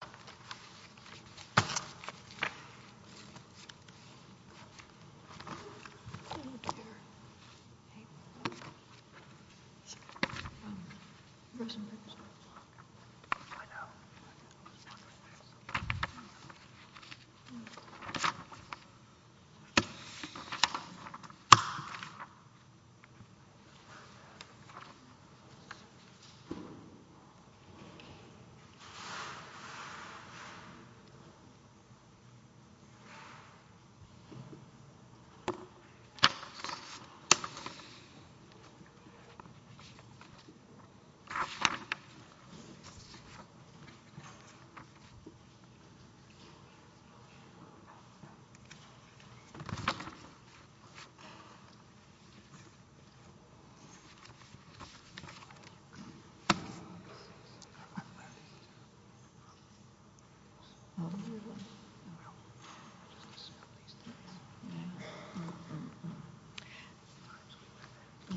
Uh huh. Yeah. Yeah. Okay. Mhm. Yeah. Yeah. Yeah. Yeah. Yeah. Yeah.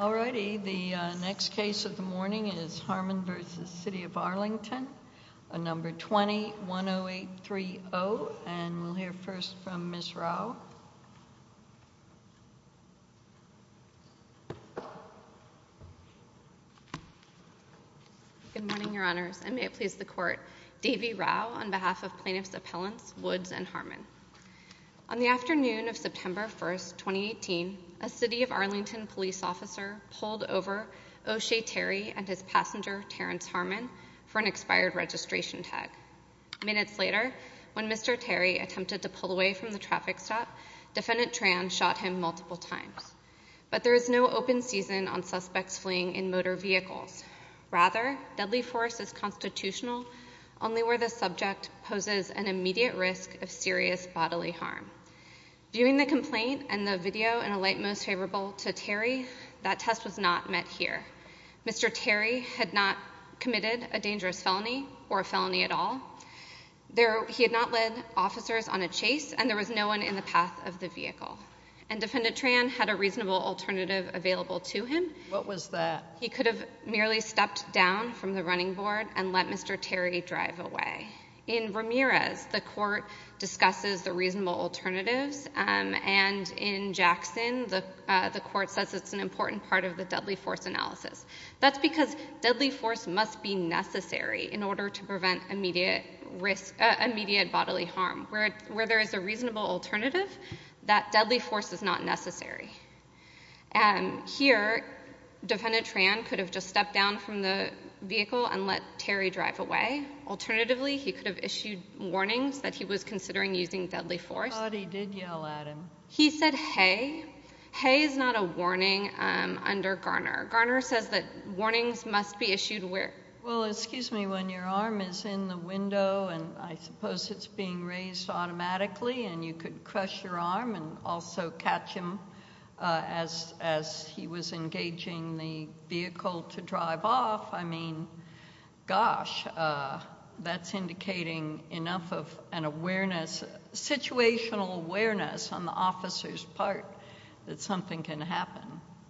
No. All righty. The next case of the morning is Harmon versus city of Arlington a number 21 0830 and we'll hear first from Miss Rao. Yeah. Good morning, your honors. I may please the court. Davie Rao on behalf of plaintiff's appellants, Woods and Harmon on the afternoon of September 1st, 2018, a city of Arlington police officer pulled over O'Shea Terry and his passenger, Terrence Harmon for an expired registration tag minutes later when Mr Terry attempted to pull away from the traffic stop. Defendant Tran shot him multiple times, but there is no open season on suspects fleeing in motor vehicles. Rather deadly force is constitutional only where the subject poses an immediate risk of serious bodily harm. Viewing the complaint and the video in a light, most favorable to Terry. That test was not met here. Mr. Terry had not committed a dangerous felony or a felony at all there. He had not led officers on a chase and there was no one in the path of the vehicle and defendant Tran had a reasonable alternative available to him. What was that? He could have merely stepped down from the running board and let Mr. Terry drive away in Ramirez. The court discusses the reasonable alternatives and in Jackson, the, uh, the court says it's an important part of the deadly force analysis. That's because deadly force must be necessary in order to prevent immediate risk, immediate bodily harm, where, where there is a reasonable alternative that deadly force is not necessary. Um, here defendant Tran could have just stepped down from the vehicle and let Terry drive away. Alternatively, he could have issued warnings that he was considering using deadly force. He said, Hey, Hey, is not a warning. Um, under Garner, Garner says that warnings must be issued where, well, excuse me, when your arm is in the window and I suppose it's being raised automatically and you could crush your arm and also catch him, uh, as, as he was engaging the vehicle to drive off. I mean, gosh, uh, that's indicating enough of an awareness, situational awareness on the officer's part that something can happen.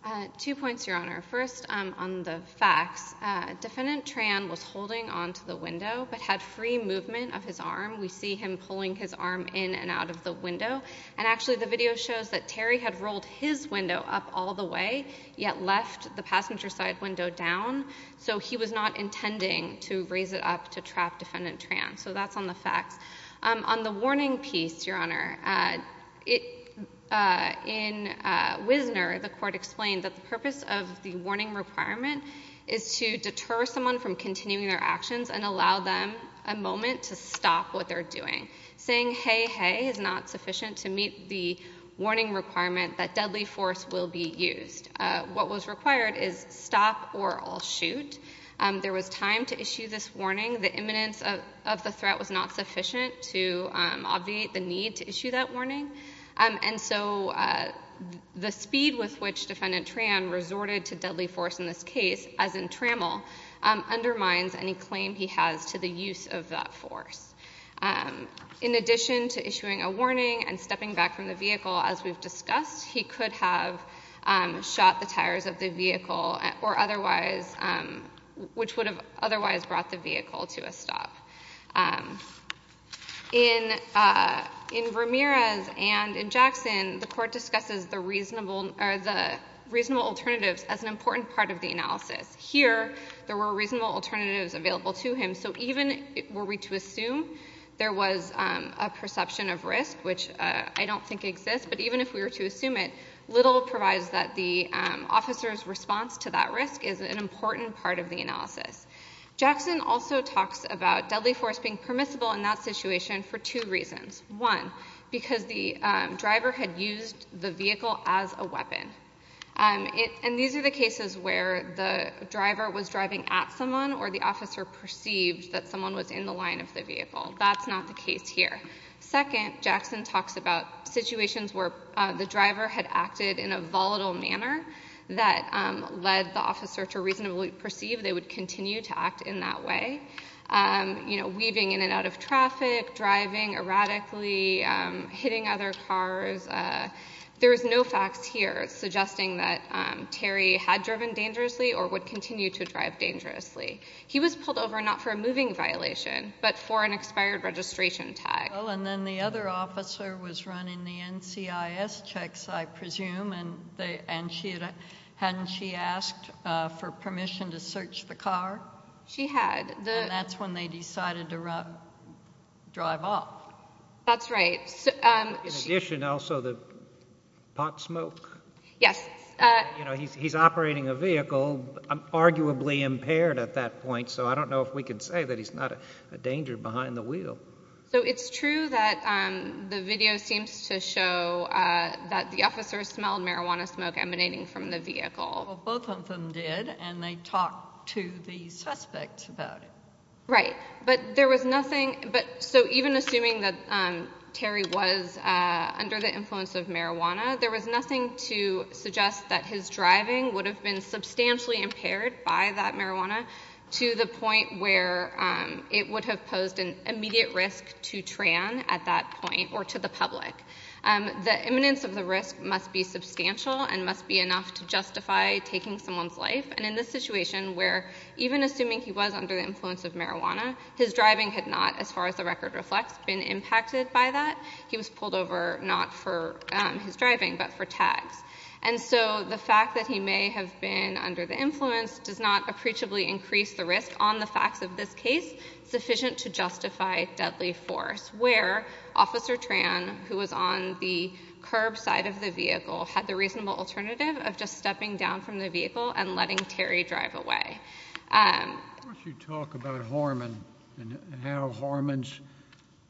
Uh, two points, Your Honor. First, um, on the facts, uh, defendant Tran was holding onto the window, but had free movement of his arm. We see him pulling his arm in and out of the window. And actually the video shows that Terry had rolled his window up all the way yet left the passenger side window down. So he was not intending to raise it up to trap defendant Tran. So that's on the facts, um, on the warning piece, Your Honor, uh, it, uh, in, uh, Wisner, the court explained that the purpose of the warning requirement is to deter someone from continuing their actions and allow them a moment to stop what they're doing. Saying, hey, hey, is not sufficient to meet the warning requirement that deadly force will be used. Uh, what was required is stop or I'll shoot. Um, there was time to issue this warning. The imminence of, of the threat was not sufficient to, um, obviate the need to issue that warning. Um, and so, uh, the speed with which defendant Tran resorted to deadly force in this case, as in trammel, um, undermines any claim he has to the use of that force. Um, in addition to issuing a warning and stepping back from the vehicle, as we've discussed, he could have, um, shot the tires of the vehicle or otherwise, um, which would have otherwise brought the vehicle to a stop. Um, in, uh, in Ramirez and in Jackson, the court discusses the reasonable or the reasonable alternatives as an important part of the analysis. Here, there were reasonable alternatives available to him. So even were we to assume there was, um, a perception of risk, which, uh, I don't think exists, but even if we were to assume it, little provides that the, um, officer's response to that risk is an important part of the analysis. Jackson also talks about deadly force being permissible in that situation for two reasons. One, because the, um, driver had used the vehicle as a weapon. Um, it, and these are the cases where the driver was driving at someone or the officer perceived that someone was in the line of the vehicle. That's not the case here. Second, Jackson talks about situations where, uh, the driver had acted in a volatile manner that, um, led the officer to reasonably perceive they would continue to act in that way. Um, you know, weaving in and out of traffic, driving erratically, um, hitting other cars. Uh, there was no facts here suggesting that, um, Terry had driven dangerously or would continue to drive dangerously. He was pulled over, not for a moving violation, but for an expired registration tag. Well, and then the other officer was running the NCIS checks, I presume, and they, and she had, hadn't she asked, uh, for permission to search the car? She had. The, and that's when they decided to run, drive off. That's right. So, um, in addition also the pot smoke. Yes. Uh, you know, he's, he's operating a vehicle, um, arguably impaired at that point. So I don't know if we can say that he's not a danger behind the wheel. So it's true that, um, the video seems to show, uh, that the officer smelled marijuana smoke emanating from the vehicle. Well, both of them did, and they talked to the suspect about it. Right. But there was nothing, but so even assuming that, um, Terry was, uh, under the influence of marijuana, there was nothing to suggest that his driving would have been substantially impaired by that marijuana to the point where, um, it would have posed an immediate risk to Tran at that point or to the public, um, the imminence of the risk must be substantial and must be enough to justify taking someone's life. And in this situation where even assuming he was under the influence of marijuana, his driving had not, as far as the record reflects, been impacted by that. He was pulled over, not for his driving, but for tags. And so the fact that he may have been under the influence does not appreciably increase the risk on the facts of this case sufficient to justify deadly force where Officer Tran, who was on the curb side of the vehicle, had the reasonable alternative of just stepping down from the vehicle and letting Terry drive away. Um. Why don't you talk about Harmon and how Harmon's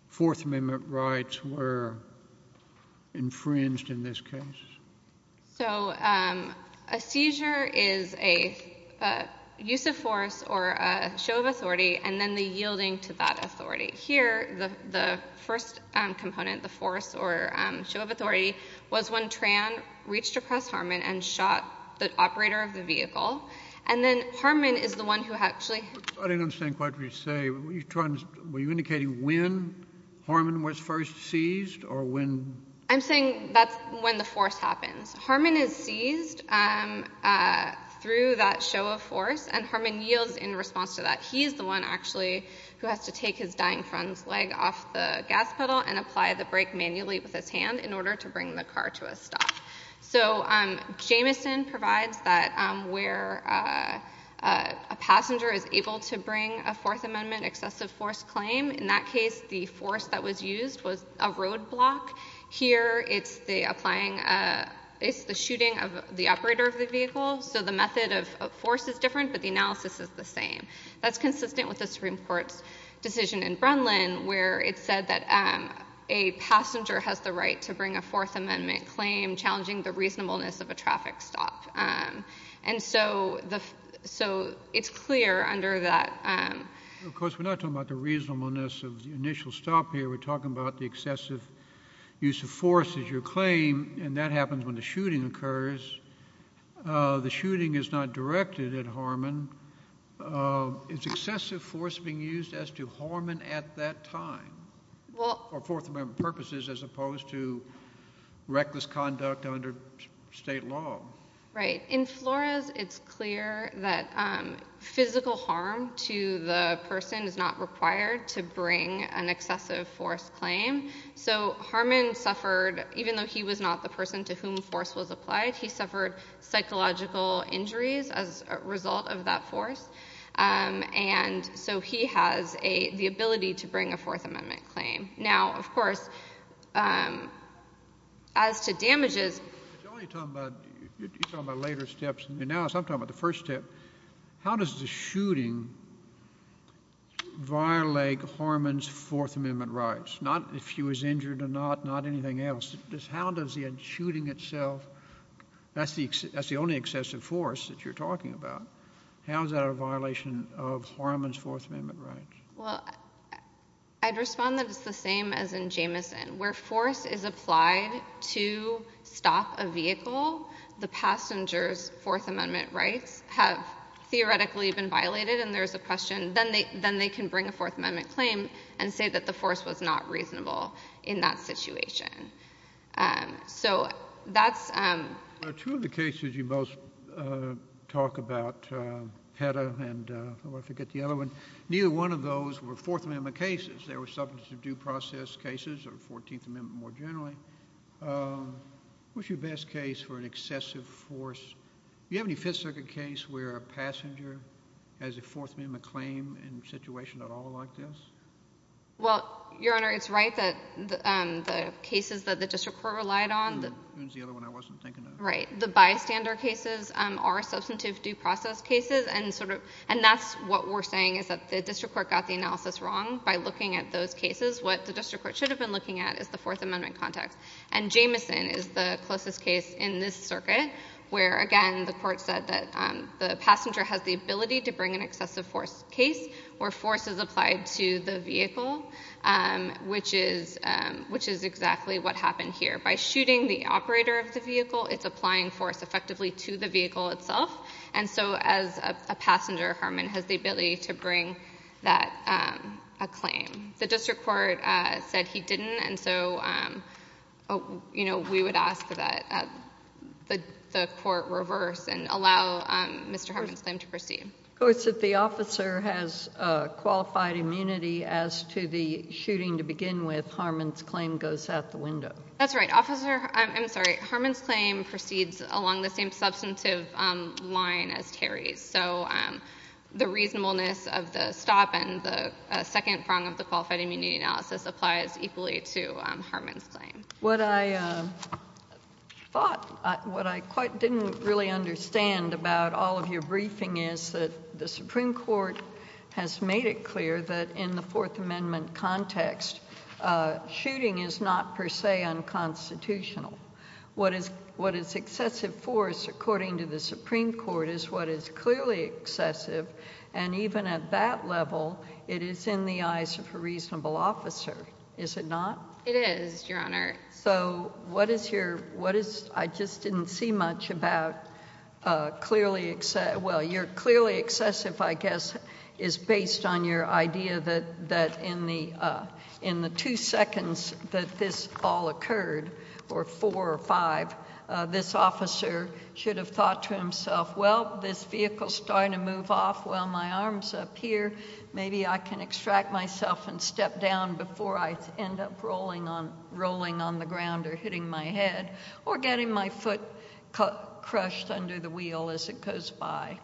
Fourth Amendment rights were infringed in this case? So, um, a seizure is a, uh, use of force or a show of authority and then the yielding to that authority. Here, the, the first, um, component, the force or, um, show of authority, was when Tran reached across Harmon and shot the operator of the vehicle. And then Harmon is the one who actually... I didn't understand quite what you say. Were you trying to, were you indicating when Harmon was first seized or when... I'm saying that's when the force happens. Harmon is seized, um, uh, through that show of force and Harmon yields in response to that. He is the one, actually, who has to take his dying friend's leg off the gas pedal and apply the brake manually with his hand in order to bring the car to a stop. So, um, Jamison provides that, um, where, uh, a passenger is able to bring a Fourth Amendment excessive force claim. In that case, the force that was used was a roadblock. Here, it's the applying, uh, it's the shooting of the operator of the vehicle. So the method of force is different, but the analysis is the same. That's consistent with the Supreme Court's decision in Brenlin where it said that, um, a passenger has the right to bring a Fourth Amendment claim challenging the reasonableness of a traffic stop. Um, and so the, so it's clear under that, um... ...use of force is your claim and that happens when the shooting occurs. Uh, the shooting is not directed at Harmon. Um, is excessive force being used as to Harmon at that time? For Fourth Amendment purposes as opposed to reckless conduct under state law? Right. In Flores, it's clear that, um, physical harm to the person is not required to bring an excessive force claim. So Harmon suffered, even though he was not the person to whom force was applied, he suffered psychological injuries as a result of that force. Um, and so he has a, the ability to bring a Fourth Amendment claim. Now, of course, um, as to damages... You're only talking about, you're talking about later steps. Now, as I'm talking about the first step, how does the shooting violate Harmon's Fourth Amendment rights? Not if he was injured or not, not anything else. How does the shooting itself... That's the only excessive force that you're talking about. How is that a violation of Harmon's Fourth Amendment rights? Well, I'd respond that it's the same as in Jamison. Where force is applied to stop a vehicle, the passenger's Fourth Amendment rights have theoretically been violated. And there's a question, then they, then they can bring a Fourth Amendment claim and say that the force was not reasonable in that situation. Um, so that's, um... Two of the cases you both, uh, talk about, uh, PETA and, uh, I forget the other one. Neither one of those were Fourth Amendment cases. They were substantive due process cases or Fourteenth Amendment more generally. Um, what's your best case for an excessive force? Do you have any Fifth Circuit case where a passenger has a Fourth Amendment claim in a situation at all like this? Well, Your Honor, it's right that, um, the cases that the district court relied on... The other one I wasn't thinking of. Right. The bystander cases, um, are substantive due process cases and sort of, and that's what we're saying is that the district court got the analysis wrong by looking at those cases. What the district court should have been looking at is the Fourth Amendment context. And Jameson is the closest case in this circuit where, again, the court said that, um, the passenger has the ability to bring an excessive force case where force is applied to the vehicle, um, which is, um, which is exactly what happened here. By shooting the operator of the vehicle, it's applying force effectively to the vehicle itself. And so as a passenger, Harmon has the ability to bring that, um, a claim. The district court, uh, said he didn't. And so, um, you know, we would ask that, uh, that the court reverse and allow, um, Mr. Harmon's claim to proceed. Of course, if the officer has, uh, qualified immunity as to the shooting to begin with, Harmon's claim goes out the window. That's right. Officer, I'm sorry. Harmon's claim proceeds along the same substantive, um, line as Terry's. So, um, the reasonableness of the stop and the, uh, second prong of the qualified immunity analysis applies equally to, um, Harmon's claim. What I, um, thought, uh, what I quite didn't really understand about all of your briefing is that the Supreme Court has made it clear that in the Fourth Amendment context, uh, shooting is not per se unconstitutional. What is, what is excessive force, according to the Supreme Court, is what is clearly excessive. And even at that level, it is in the eyes of a reasonable officer. Is it not? It is, Your Honor. So, what is your, what is, I just didn't see much about, uh, clearly, well, you're clearly excessive, I guess, is based on your idea that, that in the, uh, in the two seconds that this all occurred, or four or five, uh, this officer should have thought to himself, well, this vehicle's starting to move off while my arm's up here. Maybe I can extract myself and step down before I end up rolling on, rolling on the ground or hitting my head, or getting my foot cut, crushed under the wheel as it goes by.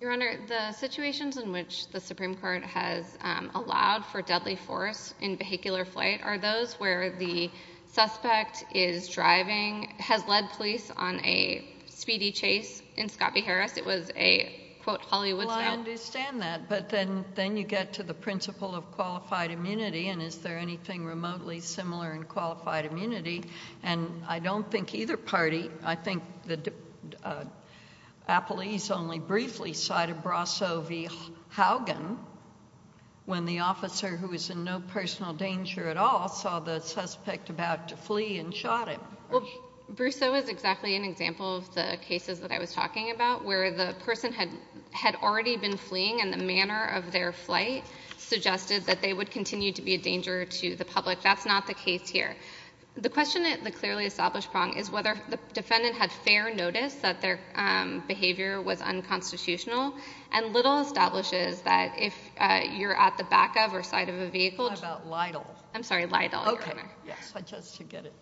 Your Honor, the situations in which the Supreme Court has, um, allowed for deadly force in vehicular flight are those where the suspect is driving, has led police on a speedy chase in Scott v. Harris. It was a, quote, Hollywood stunt. Well, I understand that. But then, then you get to the principle of qualified immunity. And is there anything remotely similar in qualified immunity? And I don't think either party, I think that, uh, Bruce O. is exactly an example of the cases that I was talking about where the person had, had already been fleeing and the manner of their flight suggested that they would continue to be a danger to the public. That's not the case here. The question at the clearly established prong is whether the defendant had fair notice that their, um, behavior was unconstitutional had fair notice that their, um, behavior was unconstitutional which is that if, uh, you're at the back of or side of a vehicle What about LIDL? I'm sorry, LIDL, Your Honor. Okay, yes, I just should get it.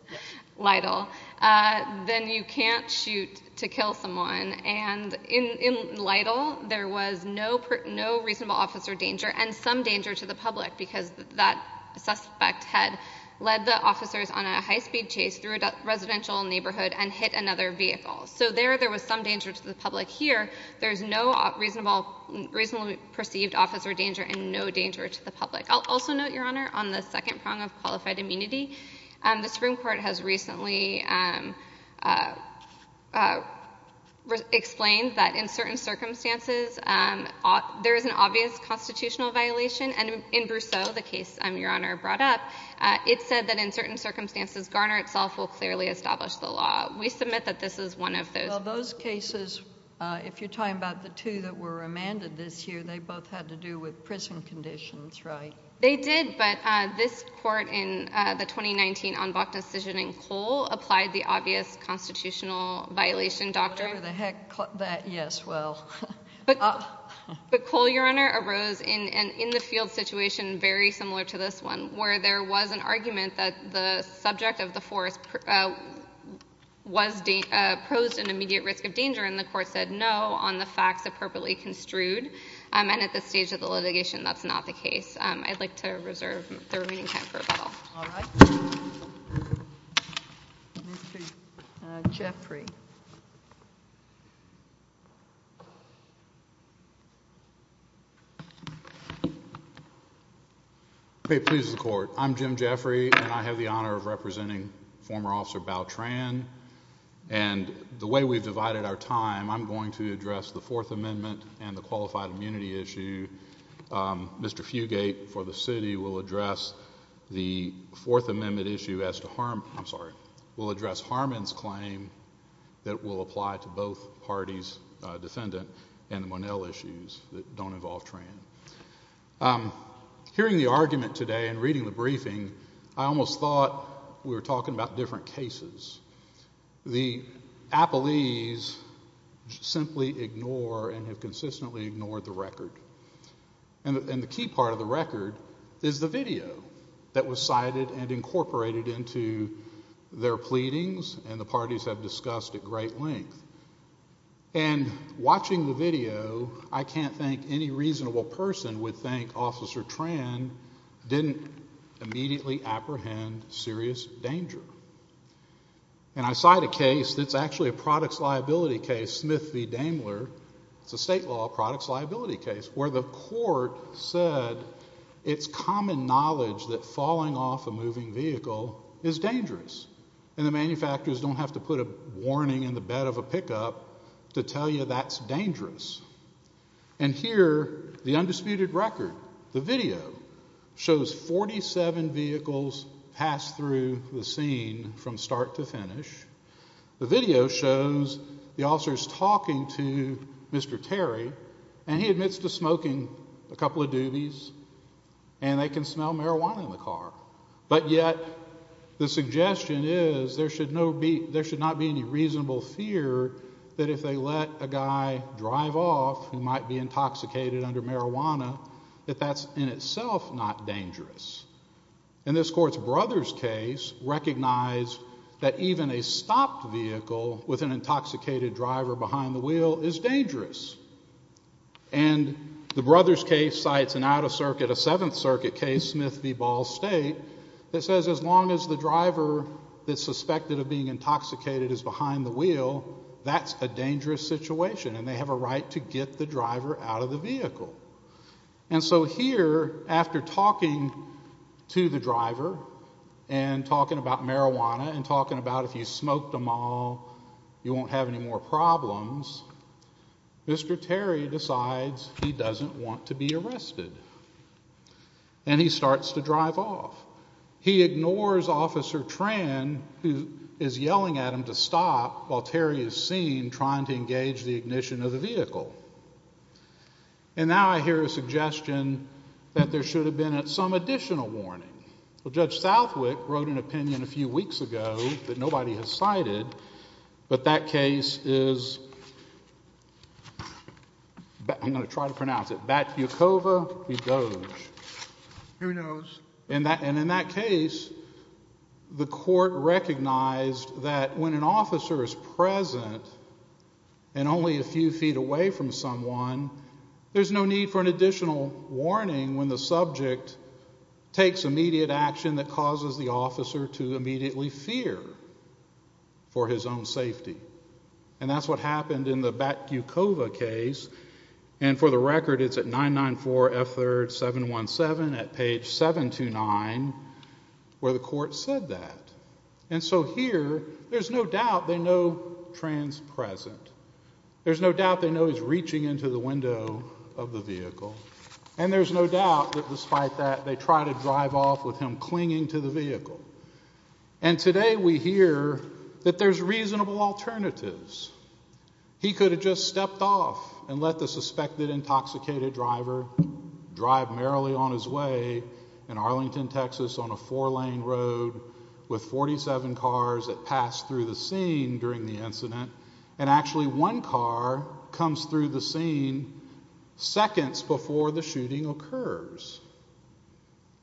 LIDL. Uh, then you can't shoot to kill someone. And in, in LIDL, there was no, no reasonable officer danger and some danger to the public because that suspect had led the officers on a high-speed chase through a residential neighborhood and hit another vehicle. So there, there was some danger to the public. Here, there's no reasonable, reasonably perceived officer danger and no danger to the public. I'll also note, Your Honor, on the second prong of qualified immunity. Um, the Supreme Court has recently, um, uh, uh, explained that in certain circumstances, um, there is an obvious constitutional violation and in Brousseau, the case, um, Your Honor brought up, uh, it said that in certain circumstances Garner itself will clearly establish the law. We submit that this is one of those. Well, those cases, uh, if you're talking about the two that were remanded this year, they both had to do with prison conditions, right? They did, but, uh, this court in, uh, the 2019 en bloc decision in Cole applied the obvious constitutional violation doctrine. Whatever the heck, that, yes, well. But, but Cole, Your Honor, arose in, in the field situation very similar to this one where there was an argument that the subject of the force, uh, was, uh, posed an immediate risk of danger and the court said no on the facts appropriately construed. Um, and at this stage of the litigation, that's not the case. Um, I'd like to reserve the remaining time for rebuttal. All right. Mr. Jeffrey. Okay, please, the court. I'm Jim Jeffrey and I have the honor of representing former officer Bao Tran. And the way we've divided our time, I'm going to address the Fourth Amendment and the qualified immunity issue. Um, Mr. Fugate for the city will address the Fourth Amendment issue as to harm, I'm sorry, will address Harmon's claim that will apply to both parties, uh, defendant and the Monell issues that don't involve Tran. Um, hearing the argument today and reading the briefing, I almost thought we were talking about different cases. The appellees simply ignore and have consistently ignored the record. And the key part of the record is the video that was cited and incorporated into their pleadings and the parties have discussed at great length. And watching the video, I can't think any reasonable person would think Officer Tran didn't immediately apprehend serious danger. And I cite a case that's actually a products liability case, Smith v. Daimler. It's a state law products liability case where the court said it's common knowledge that falling off a moving vehicle is dangerous. And the manufacturers don't have to put a warning in the bed of a pickup to tell you that's dangerous. And here, the undisputed record, the video, shows 47 vehicles pass through the scene from start to finish. The video shows the officers talking to Mr. Terry and he admits to smoking a couple of doobies and they can smell marijuana in the car. But yet, the suggestion is there should not be any reasonable fear that if they let a guy drive off who might be intoxicated under marijuana, that that's in itself not dangerous. And this court's brother's case recognized that even a stopped vehicle with an intoxicated driver behind the wheel is dangerous. And the brother's case cites an out-of-circuit, a Seventh Circuit case, Smith v. Ball State that says as long as the driver that's suspected of being intoxicated is behind the wheel, that's a dangerous situation and they have a right to get the driver out of the vehicle. And so here, after talking to the driver and talking about marijuana and talking about if you smoked them all you won't have any more problems, Mr. Terry decides he doesn't want to be arrested. And he starts to drive off. He ignores Officer Tran who is yelling at him to stop while Terry is seen trying to engage the ignition of the vehicle. And now I hear a suggestion that there should have been some additional warning. Judge Southwick wrote an opinion a few weeks ago that nobody has cited but that case is I'm going to try to pronounce it Batyukova v. Doge. Who knows. And in that case the court recognized that when an officer is present and only a few feet away from someone there's no need for an additional warning when the subject takes immediate action that causes the officer to immediately fear for his own safety. And that's what happened in the Batyukova case and for the record it's at 994 F3rd 717 at page 729 where the court said that. And so here there's no doubt they know Tran's present. There's no doubt they know he's reaching into the window of the vehicle. And there's no doubt that despite that they try to drive off with him clinging to the vehicle. And today we hear that there's reasonable alternatives. He could have just stepped off and let the suspected intoxicated driver drive merrily on his way in Arlington, Texas on a four lane road with 47 cars that pass through the scene during the incident and actually one car comes through the scene seconds before the shooting occurs.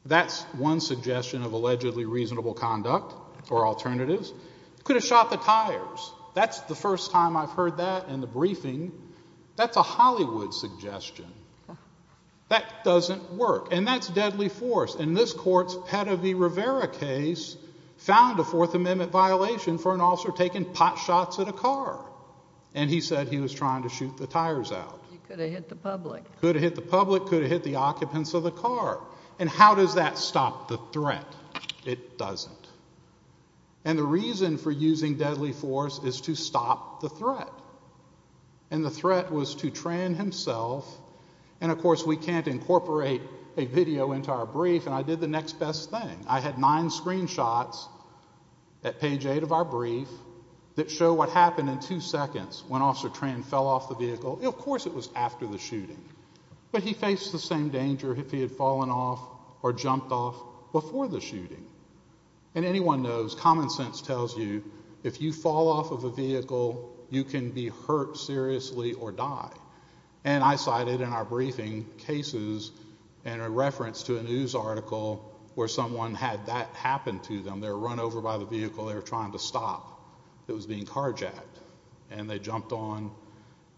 That's one suggestion of allegedly reasonable conduct or alternatives. He could have shot the tires. That's the first time I've heard that in the briefing. That's a Hollywood suggestion. That doesn't work. And that's deadly force. And this court's Petivy Rivera case found a Fourth Amendment violation for an officer taking pot shots at a car. And he said he was trying to shoot the tires out. Could have hit the public. Could have hit the occupants of the car. And how does that stop the threat? It doesn't. And the reason for using deadly force is to stop the threat. And the threat was to Tran himself And of course we can't incorporate a video into our brief and I did the next best thing. I had 9 screenshots at page 8 of our brief that show what happened in 2 seconds when Officer Tran fell off the vehicle and of course it was after the shooting. But he faced the same danger if he had fallen off or jumped off before the shooting. And anyone knows, common sense tells you if you fall off of a vehicle you can be hurt seriously or die. And I cited in our briefing cases and a reference to a news article where someone had that happen to them. They were run over by the vehicle they were trying to stop. It was being carjacked. And they jumped on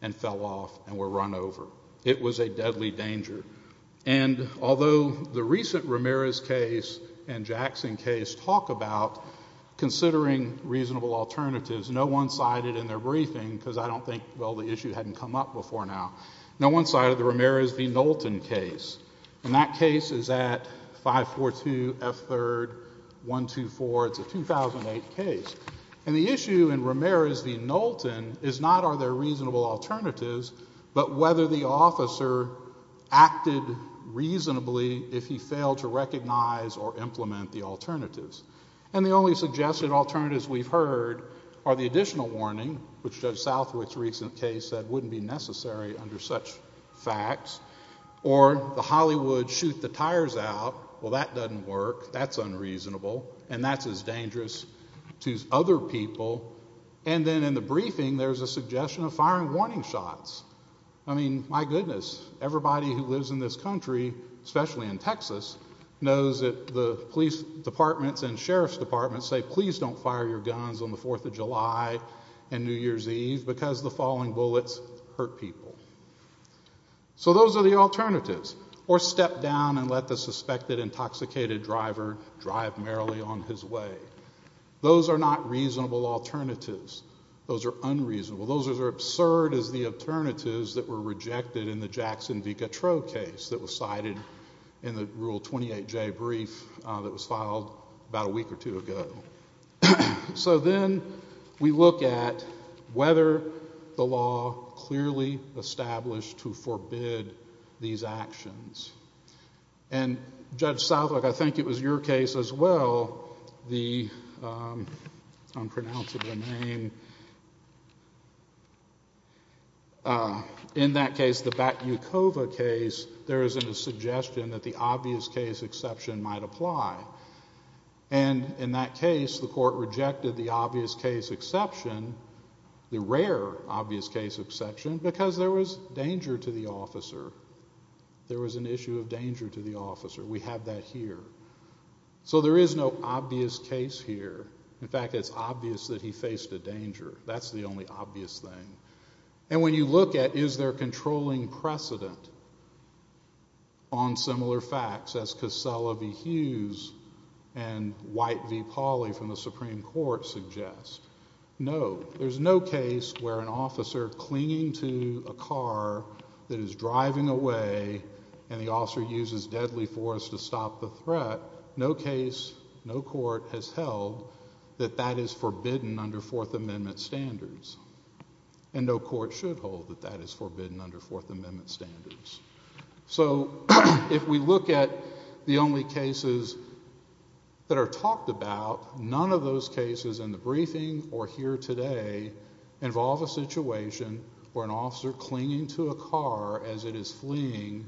and fell off and were run over. It was a deadly danger. And although the recent Ramirez case and Jackson case talk about considering reasonable alternatives, no one cited in their case. No one cited the Ramirez v. Knowlton case. And that case is at 542 F 3rd 124. It's a 2008 case. And the issue in Ramirez v. Knowlton is not are there reasonable alternatives but whether the officer acted reasonably if he failed to recognize or implement the alternatives. And the only suggested alternatives we've heard are the additional warning which Judge Southwick's recent case said wouldn't be necessary under such facts. Or the Hollywood shoot the tires out. Well that doesn't work. That's unreasonable. And that's as dangerous to other people. And then in the briefing there's a suggestion of firing warning shots. I mean, my goodness. Everybody who lives in this country, especially in Texas, knows that the police departments and sheriffs departments say please don't fire your guns on the 4th of July and New Year's Eve because the falling bullets hurt people. So those are the alternatives. Or step down and let the suspected intoxicated driver drive merrily on his way. Those are not reasonable alternatives. Those are unreasonable. Those are absurd as the alternatives that were rejected in the Jackson v. Gautreaux case that was cited in the Rule 28J brief that was filed about a week or two ago. So then we look at whether the law clearly established to forbid these actions. And Judge Southwark, I think it was your case as well, the unpronounceable name in that case the Batyukova case, there is a suggestion that the obvious case exception might apply. And in that case the court rejected the obvious case exception, the rare obvious case exception, because there was danger to the officer. There was an issue of danger to the officer. We have that here. So there is no obvious case here. In fact, it's obvious that he faced a danger. That's the only obvious thing. And when you look at is there controlling precedent on similar facts as Casella v. Hughes and White v. Pauley from the Supreme Court suggest? No. There's no case where an officer clinging to a car that is driving away and the officer uses deadly force to stop the threat. No case, no court has held that that is forbidden under Fourth Amendment standards. And no court should hold that that is forbidden under Fourth Amendment standards. So if we look at the only cases that are talked about none of those cases in the briefing or here today involve a situation where an officer clinging to a car as it is fleeing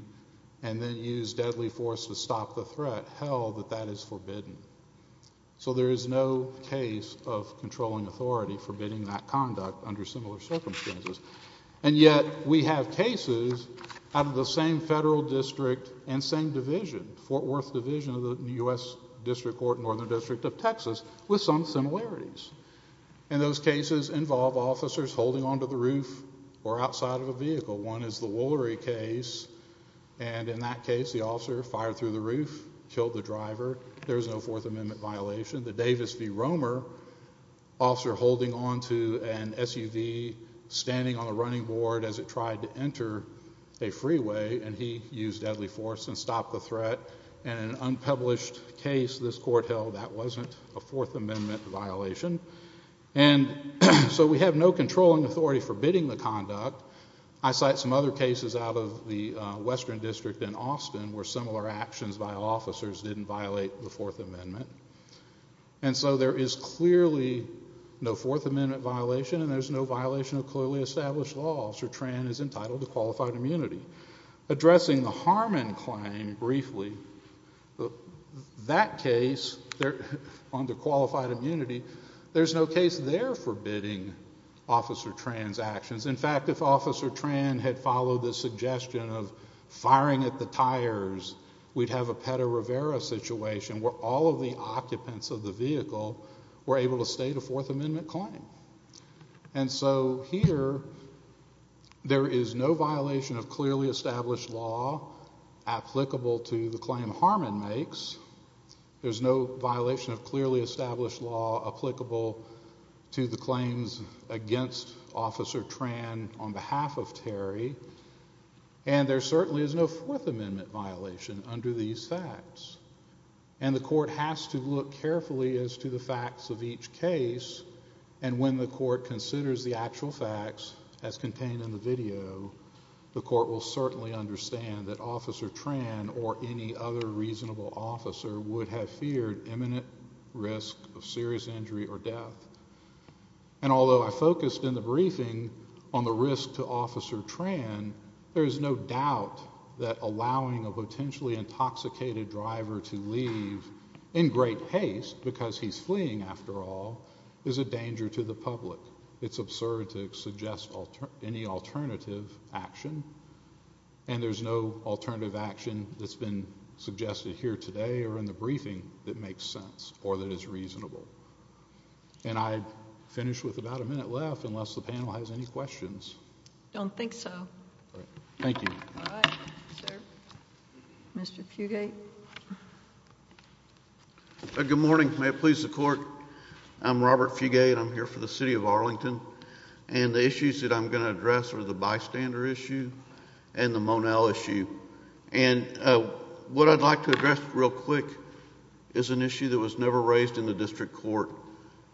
and then use deadly force to stop the threat, held that that is forbidden. So there is no case of controlling authority forbidding that conduct under similar circumstances. And yet we have cases out of the same federal district and same division, Fort Worth Division of the U.S. District Court, Northern District of Texas with some similarities. And those cases involve officers holding onto the roof or outside of a vehicle. One is the Woolery case and in that case the officer fired through the roof, killed the driver. There is no Fourth Amendment violation. The Davis v. Romer officer holding onto an SUV standing on a running board as it tried to enter a freeway and he used deadly force and stopped the threat. And an unpublished case this court held that wasn't a Fourth Amendment violation. And so we have no controlling authority forbidding the conduct. I cite some other cases out of the Western District in Austin where similar actions by officers didn't violate the Fourth Amendment. And so there is clearly no violation of clearly established laws where Tran is entitled to qualified immunity. Addressing the Harmon claim briefly that case under qualified immunity there is no case there forbidding Officer Tran's actions. In fact, if Officer Tran had followed the suggestion of firing at the tires we'd have a Petta Rivera situation where all of the occupants of the vehicle were able to state a Fourth Amendment claim. And so here there is no violation of clearly established law applicable to the claim Harmon makes. There's no violation of clearly established law applicable to the claims against Officer Tran on behalf of Terry and there certainly is no Fourth Amendment violation under these facts. And the court has to look carefully as to the and when the court considers the actual facts as contained in the video the court will certainly understand that Officer Tran or any other reasonable officer would have feared imminent risk of serious injury or death. And although I focused in the briefing on the risk to Officer Tran allowing a potentially intoxicated driver to leave in great haste because he's fleeing after all is a danger to the public. It's absurd to suggest any alternative action and there's no alternative action that's been suggested here today or in the briefing that makes sense or that is reasonable. And I'd finish with about a minute left unless the panel has any questions. I don't think so. Thank you. Mr. Fugate. Good morning. May it please the court. I'm Robert Fugate. I'm here for the city of Arlington. And the issues that I'm going to address are the bystander issue and the Monel issue. What I'd like to address real quick is an issue that was never raised in the district court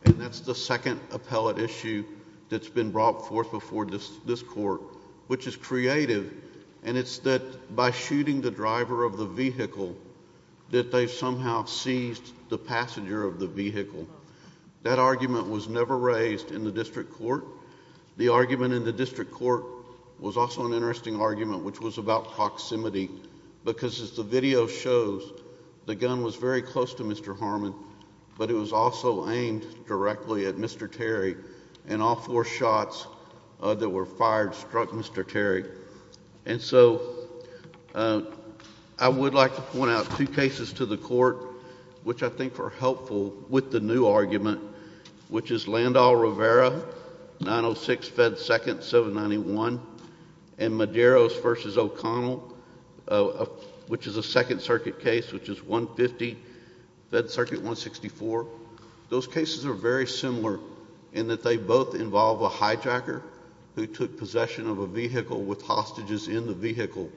and that's the second appellate issue that's been brought forth before this court which is creative and it's that by shooting the driver of the vehicle that they somehow seized the passenger of the vehicle. That argument was never raised in the district court. The argument in the district court was also an interesting argument which was about proximity because as the video shows the gun was very close to Mr. Harmon but it was also aimed directly at Mr. Terry and all four shots that were fired struck Mr. Terry. And so I would like to point out two cases to the court which I think are helpful with the new argument which is Landau-Rivera, 906 Fed Second, 791 and Medeiros v. O'Connell which is a second circuit case which is 150, Fed Circuit 164. Those cases are very similar in that they both involve a hijacker who took possession of a vehicle with hostages in the vehicle.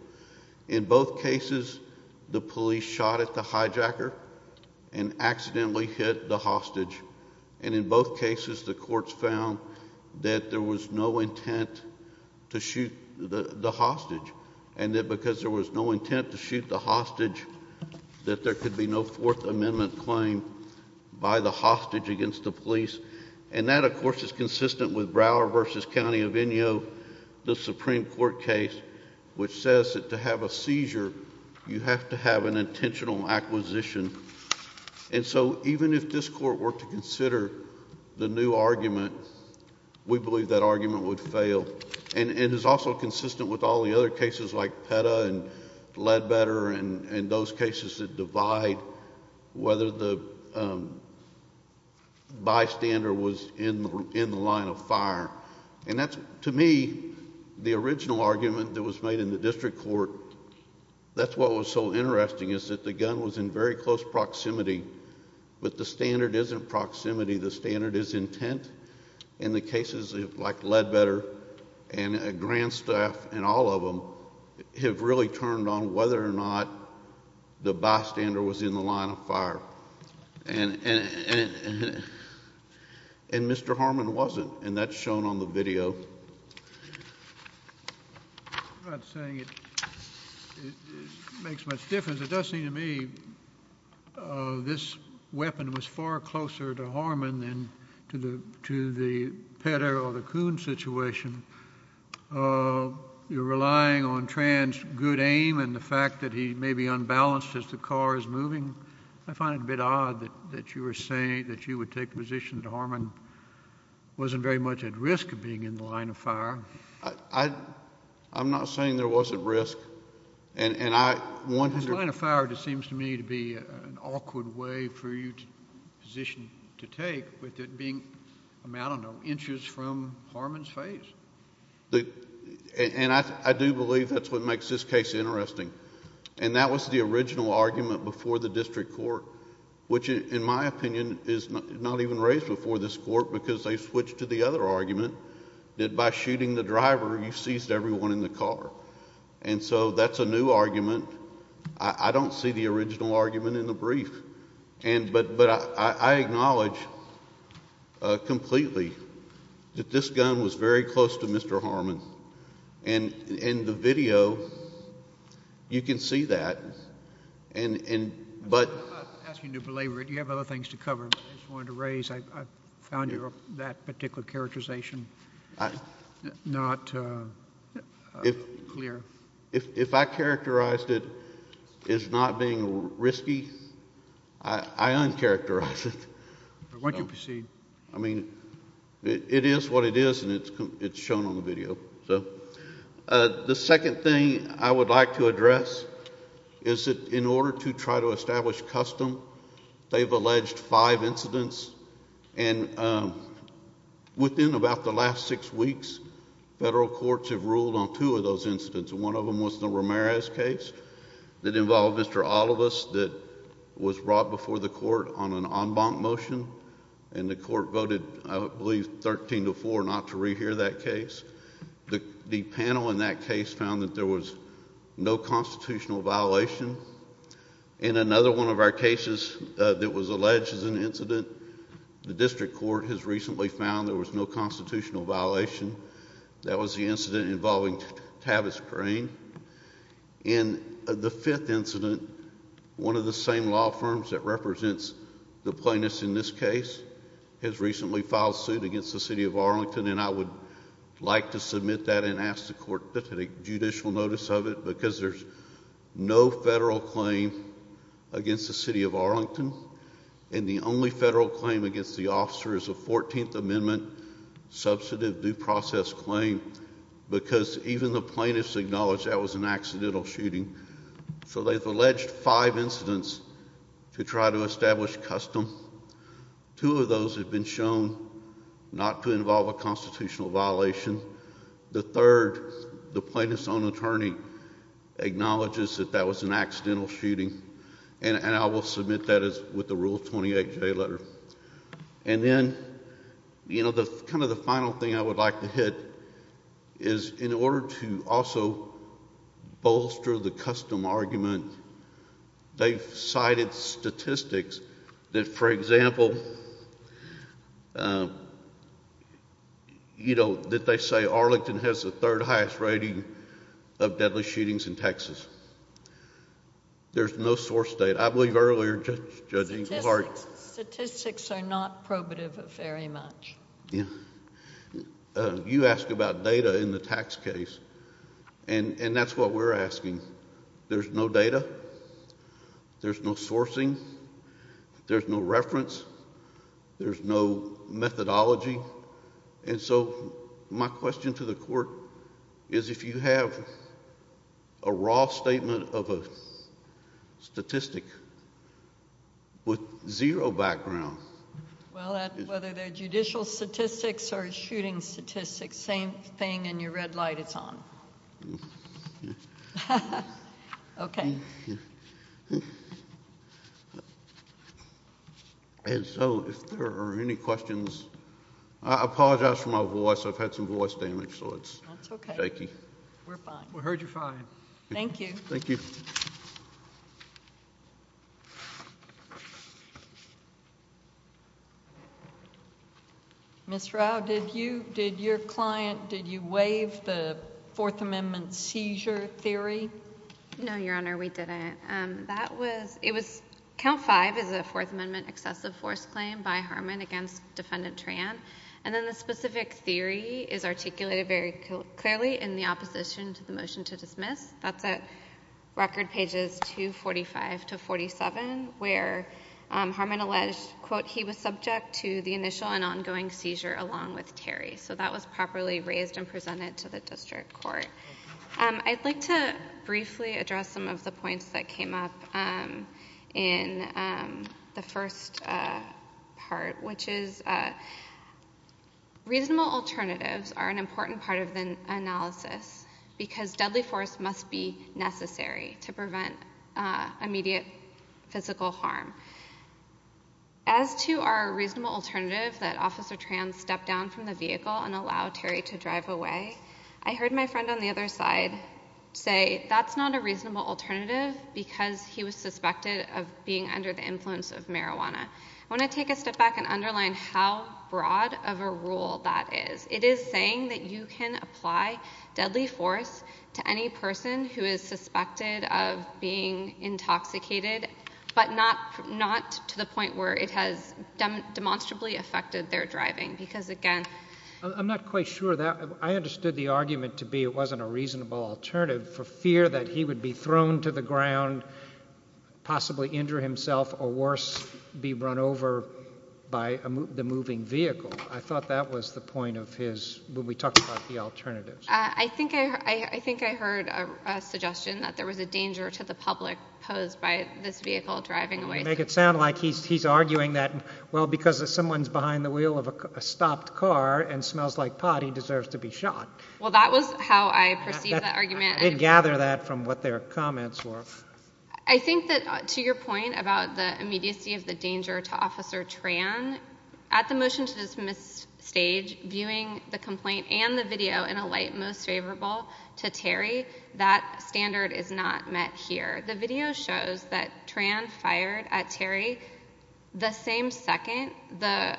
In both cases the police shot at the hijacker and accidentally hit the hostage and in both cases the courts found that there was no intent to shoot the hostage and that because there was no intent to shoot the hostage that there could be no fourth amendment claim by the hostage against the police and that of course is consistent with Brower v. County of Inyo, the Supreme Court case which says that to have a seizure you have to have an intentional acquisition and so even if this court were to consider the new argument, we believe that argument would fail. And it is also consistent with all the other cases like Petta and Ledbetter and those cases that divide whether the bystander was in the line of fire and that's to me the original argument that was made in the district court, that's what was so interesting is that the gun was in very close proximity but the standard isn't proximity, the standard is intent and the cases like Ledbetter and Grandstaff and all of them have really turned on whether or not the bystander was in the line of fire and and Mr. Harmon wasn't and that's shown on the video. I'm not saying it makes much difference, it does seem to me this weapon was far closer to Harmon than to the Petta or the Coon situation. You're relying on Tran's good aim and the fact that he may be unbalanced as the car is moving, I find a bit odd that you were saying that you would take the position that Harmon wasn't very much at risk of being in the line of fire. I'm not saying there was at risk and I The line of fire seems to me to be an awkward way for you to position to take with it being, I don't know, inches And I do believe that's what makes this case interesting and that was the original argument before the district court which in my opinion is not even raised before this court because they switched to the other argument that by shooting the driver you seized everyone in the car and so that's a new argument I don't see the original argument in the brief but I acknowledge completely that this gun was very close to Mr. Harmon and in the video you can see that but I'm not asking you to belabor it you have other things to cover I just wanted to raise I found that particular characterization not clear If I characterized it as not being risky I uncharacterize it Why don't you proceed I mean it is what it is and it's shown on the video So the second thing I would like to address is that in order to try to establish custom they've alleged five incidents and within about the last six weeks federal courts have ruled on two of those incidents and one of them was the Ramirez case that involved Mr. Olivas that was brought before the court on an en banc motion and the court voted I believe 13-4 not to rehear that case the panel in that case found that there was no constitutional violation and another one of our cases that was alleged as an incident the district court has recently found there was no constitutional violation that was the incident involving Tavis Crane and the fifth incident one of the same law firms that represents the plaintiffs in this case has recently filed suit against the city of Arlington and I would like to submit that and ask the court to take judicial notice of it because there's no federal claim against the city of Arlington and the only federal claim against the officer is a 14th amendment substantive due process claim acknowledged that was an accidental shooting so they've alleged five incidents to try to establish custom two of those have been shown not to involve a constitutional violation the third the plaintiff's own attorney acknowledges that that was an accidental shooting and I will submit that as with the rule 28 J letter and then you know the kind of the final thing I would like to hit is in order to also bolster the custom argument they've cited statistics that for example you know that they say Arlington has the third highest rating of deadly shootings in Texas there's no source data I believe earlier statistics are not probative very much you ask about data in the tax case and that's what we're talking about there's no data there's no sourcing there's no reference there's no methodology and so my question to the court is if you have a raw statement of a statistic with zero background whether they're judicial statistics or shooting statistics same thing and your red light it's on okay so if there are any questions I apologize for my voice I've had some voice damage so it's shaky we're fine thank you thank you Ms. Rao did you did your client did you waive the fourth amendment seizure theory no your honor we didn't that was it was count five is a fourth amendment excessive force claim by Harmon against defendant Tran and then the specific theory is articulated very clearly in the opposition to the motion to dismiss that's at record pages 245 to 47 where Harmon alleged quote he was subject to the initial and ongoing seizure along with Terry so that was properly raised and presented to the district court I'd like to briefly address some of the points that came up in the first part which is reasonable alternatives are an important part of the analysis because deadly force must be necessary to prevent immediate physical harm as to our reasonable alternative that officer Tran stepped down from the vehicle and allow Terry to drive away I heard my friend on the other side say that's not a reasonable alternative because he was suspected of being under the influence of marijuana I want to take a step back and underline how broad of a rule that is it is saying that you can apply deadly force to any person who is suspected of being intoxicated but not to the point where it has demonstrably affected their driving because again I'm not quite sure that I understood the argument to be it wasn't a reasonable alternative for fear that he would be thrown to the ground possibly injure himself or worse be run over by the moving vehicle I thought that was the point of his when we talked about the alternatives I think I think I heard a suggestion that there was a danger to the public posed by this vehicle driving away make it sound like he's arguing that well because if someone's behind the wheel of a stopped car and smells like pot he deserves to be shot well that was how I perceived that argument I didn't gather that from what their comments were I think that to your point about the immediacy of the danger to officer Tran at the motion to dismiss stage viewing the complaint and the video in a light most favorable to Terry that standard is not met here the video shows that Tran fired at Terry the same second the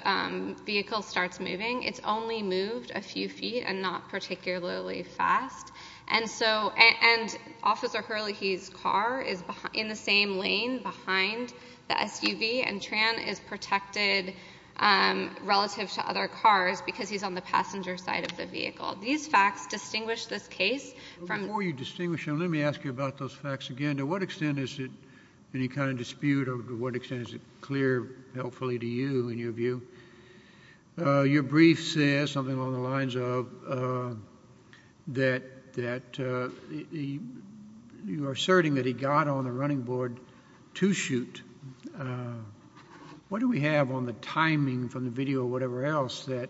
vehicle starts moving it's only moved a few feet and not particularly fast and so and officer Hurley he's car is in the same lane behind the SUV and Tran is protected relative to other cars because he's on the passenger side of the vehicle these facts distinguish this case before you distinguish them let me ask you about those facts again to what extent is it any kind of dispute or what extent is it clear helpfully to you in your view your brief says something along the lines of that you are asserting that he got on the running board to shoot what do we have on the timing from the video or whatever else that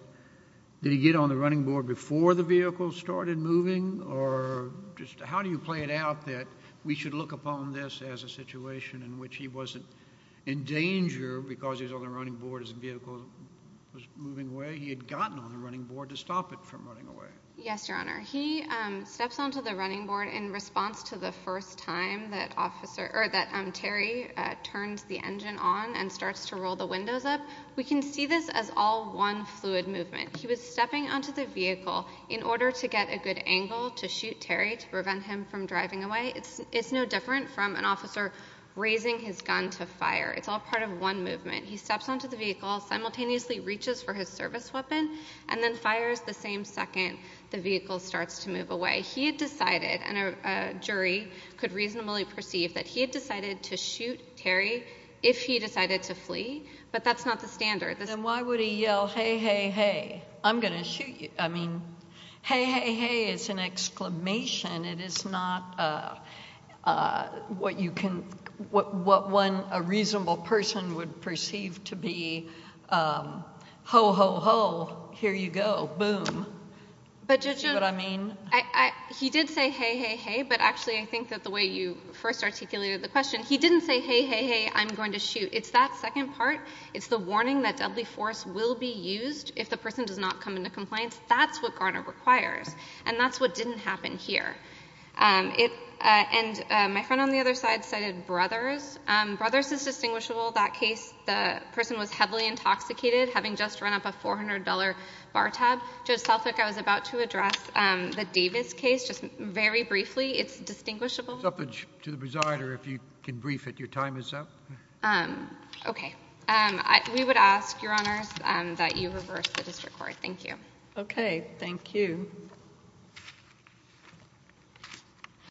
did he get on the running board before the vehicle started moving or just how do you play it out that we should look upon this as a situation in which he wasn't in danger because he was on the running board as the vehicle was moving away he had gotten on the running board to stop it from running away yes your honor he steps onto the running board in response to the first time that Terry turned the engine on and starts to roll the windows up we can see this as all one fluid movement he was stepping onto the vehicle in order to get a good angle to shoot Terry to prevent him from driving away it's no different from an officer raising his gun to fire it's all part of one movement he steps onto the vehicle simultaneously reaches for his service weapon and then fires the same second the vehicle starts to move away he had decided a jury could reasonably perceive that he had decided to shoot Terry if he decided to flee but that's not the standard then why would he yell hey hey hey I'm gonna shoot you I mean hey hey hey is an exclamation it is not what you can what one a reasonable person would perceive to be ho ho ho here you go boom see what I mean he did say hey hey hey but actually I think that the way you first articulated the question he didn't say hey hey hey I'm going to shoot it's that second part it's the warning that deadly force will be used if the person does not come into compliance that's what Garner requires and that's what didn't happen here and my friend on the other side cited Brothers Brothers is distinguishable that case the person was heavily intoxicated having just run up a $400 bar tab I was about to address the Davis case just very briefly it's distinguishable if you can brief it your time is up okay we would ask your honors that you reverse the district court thank you okay thank you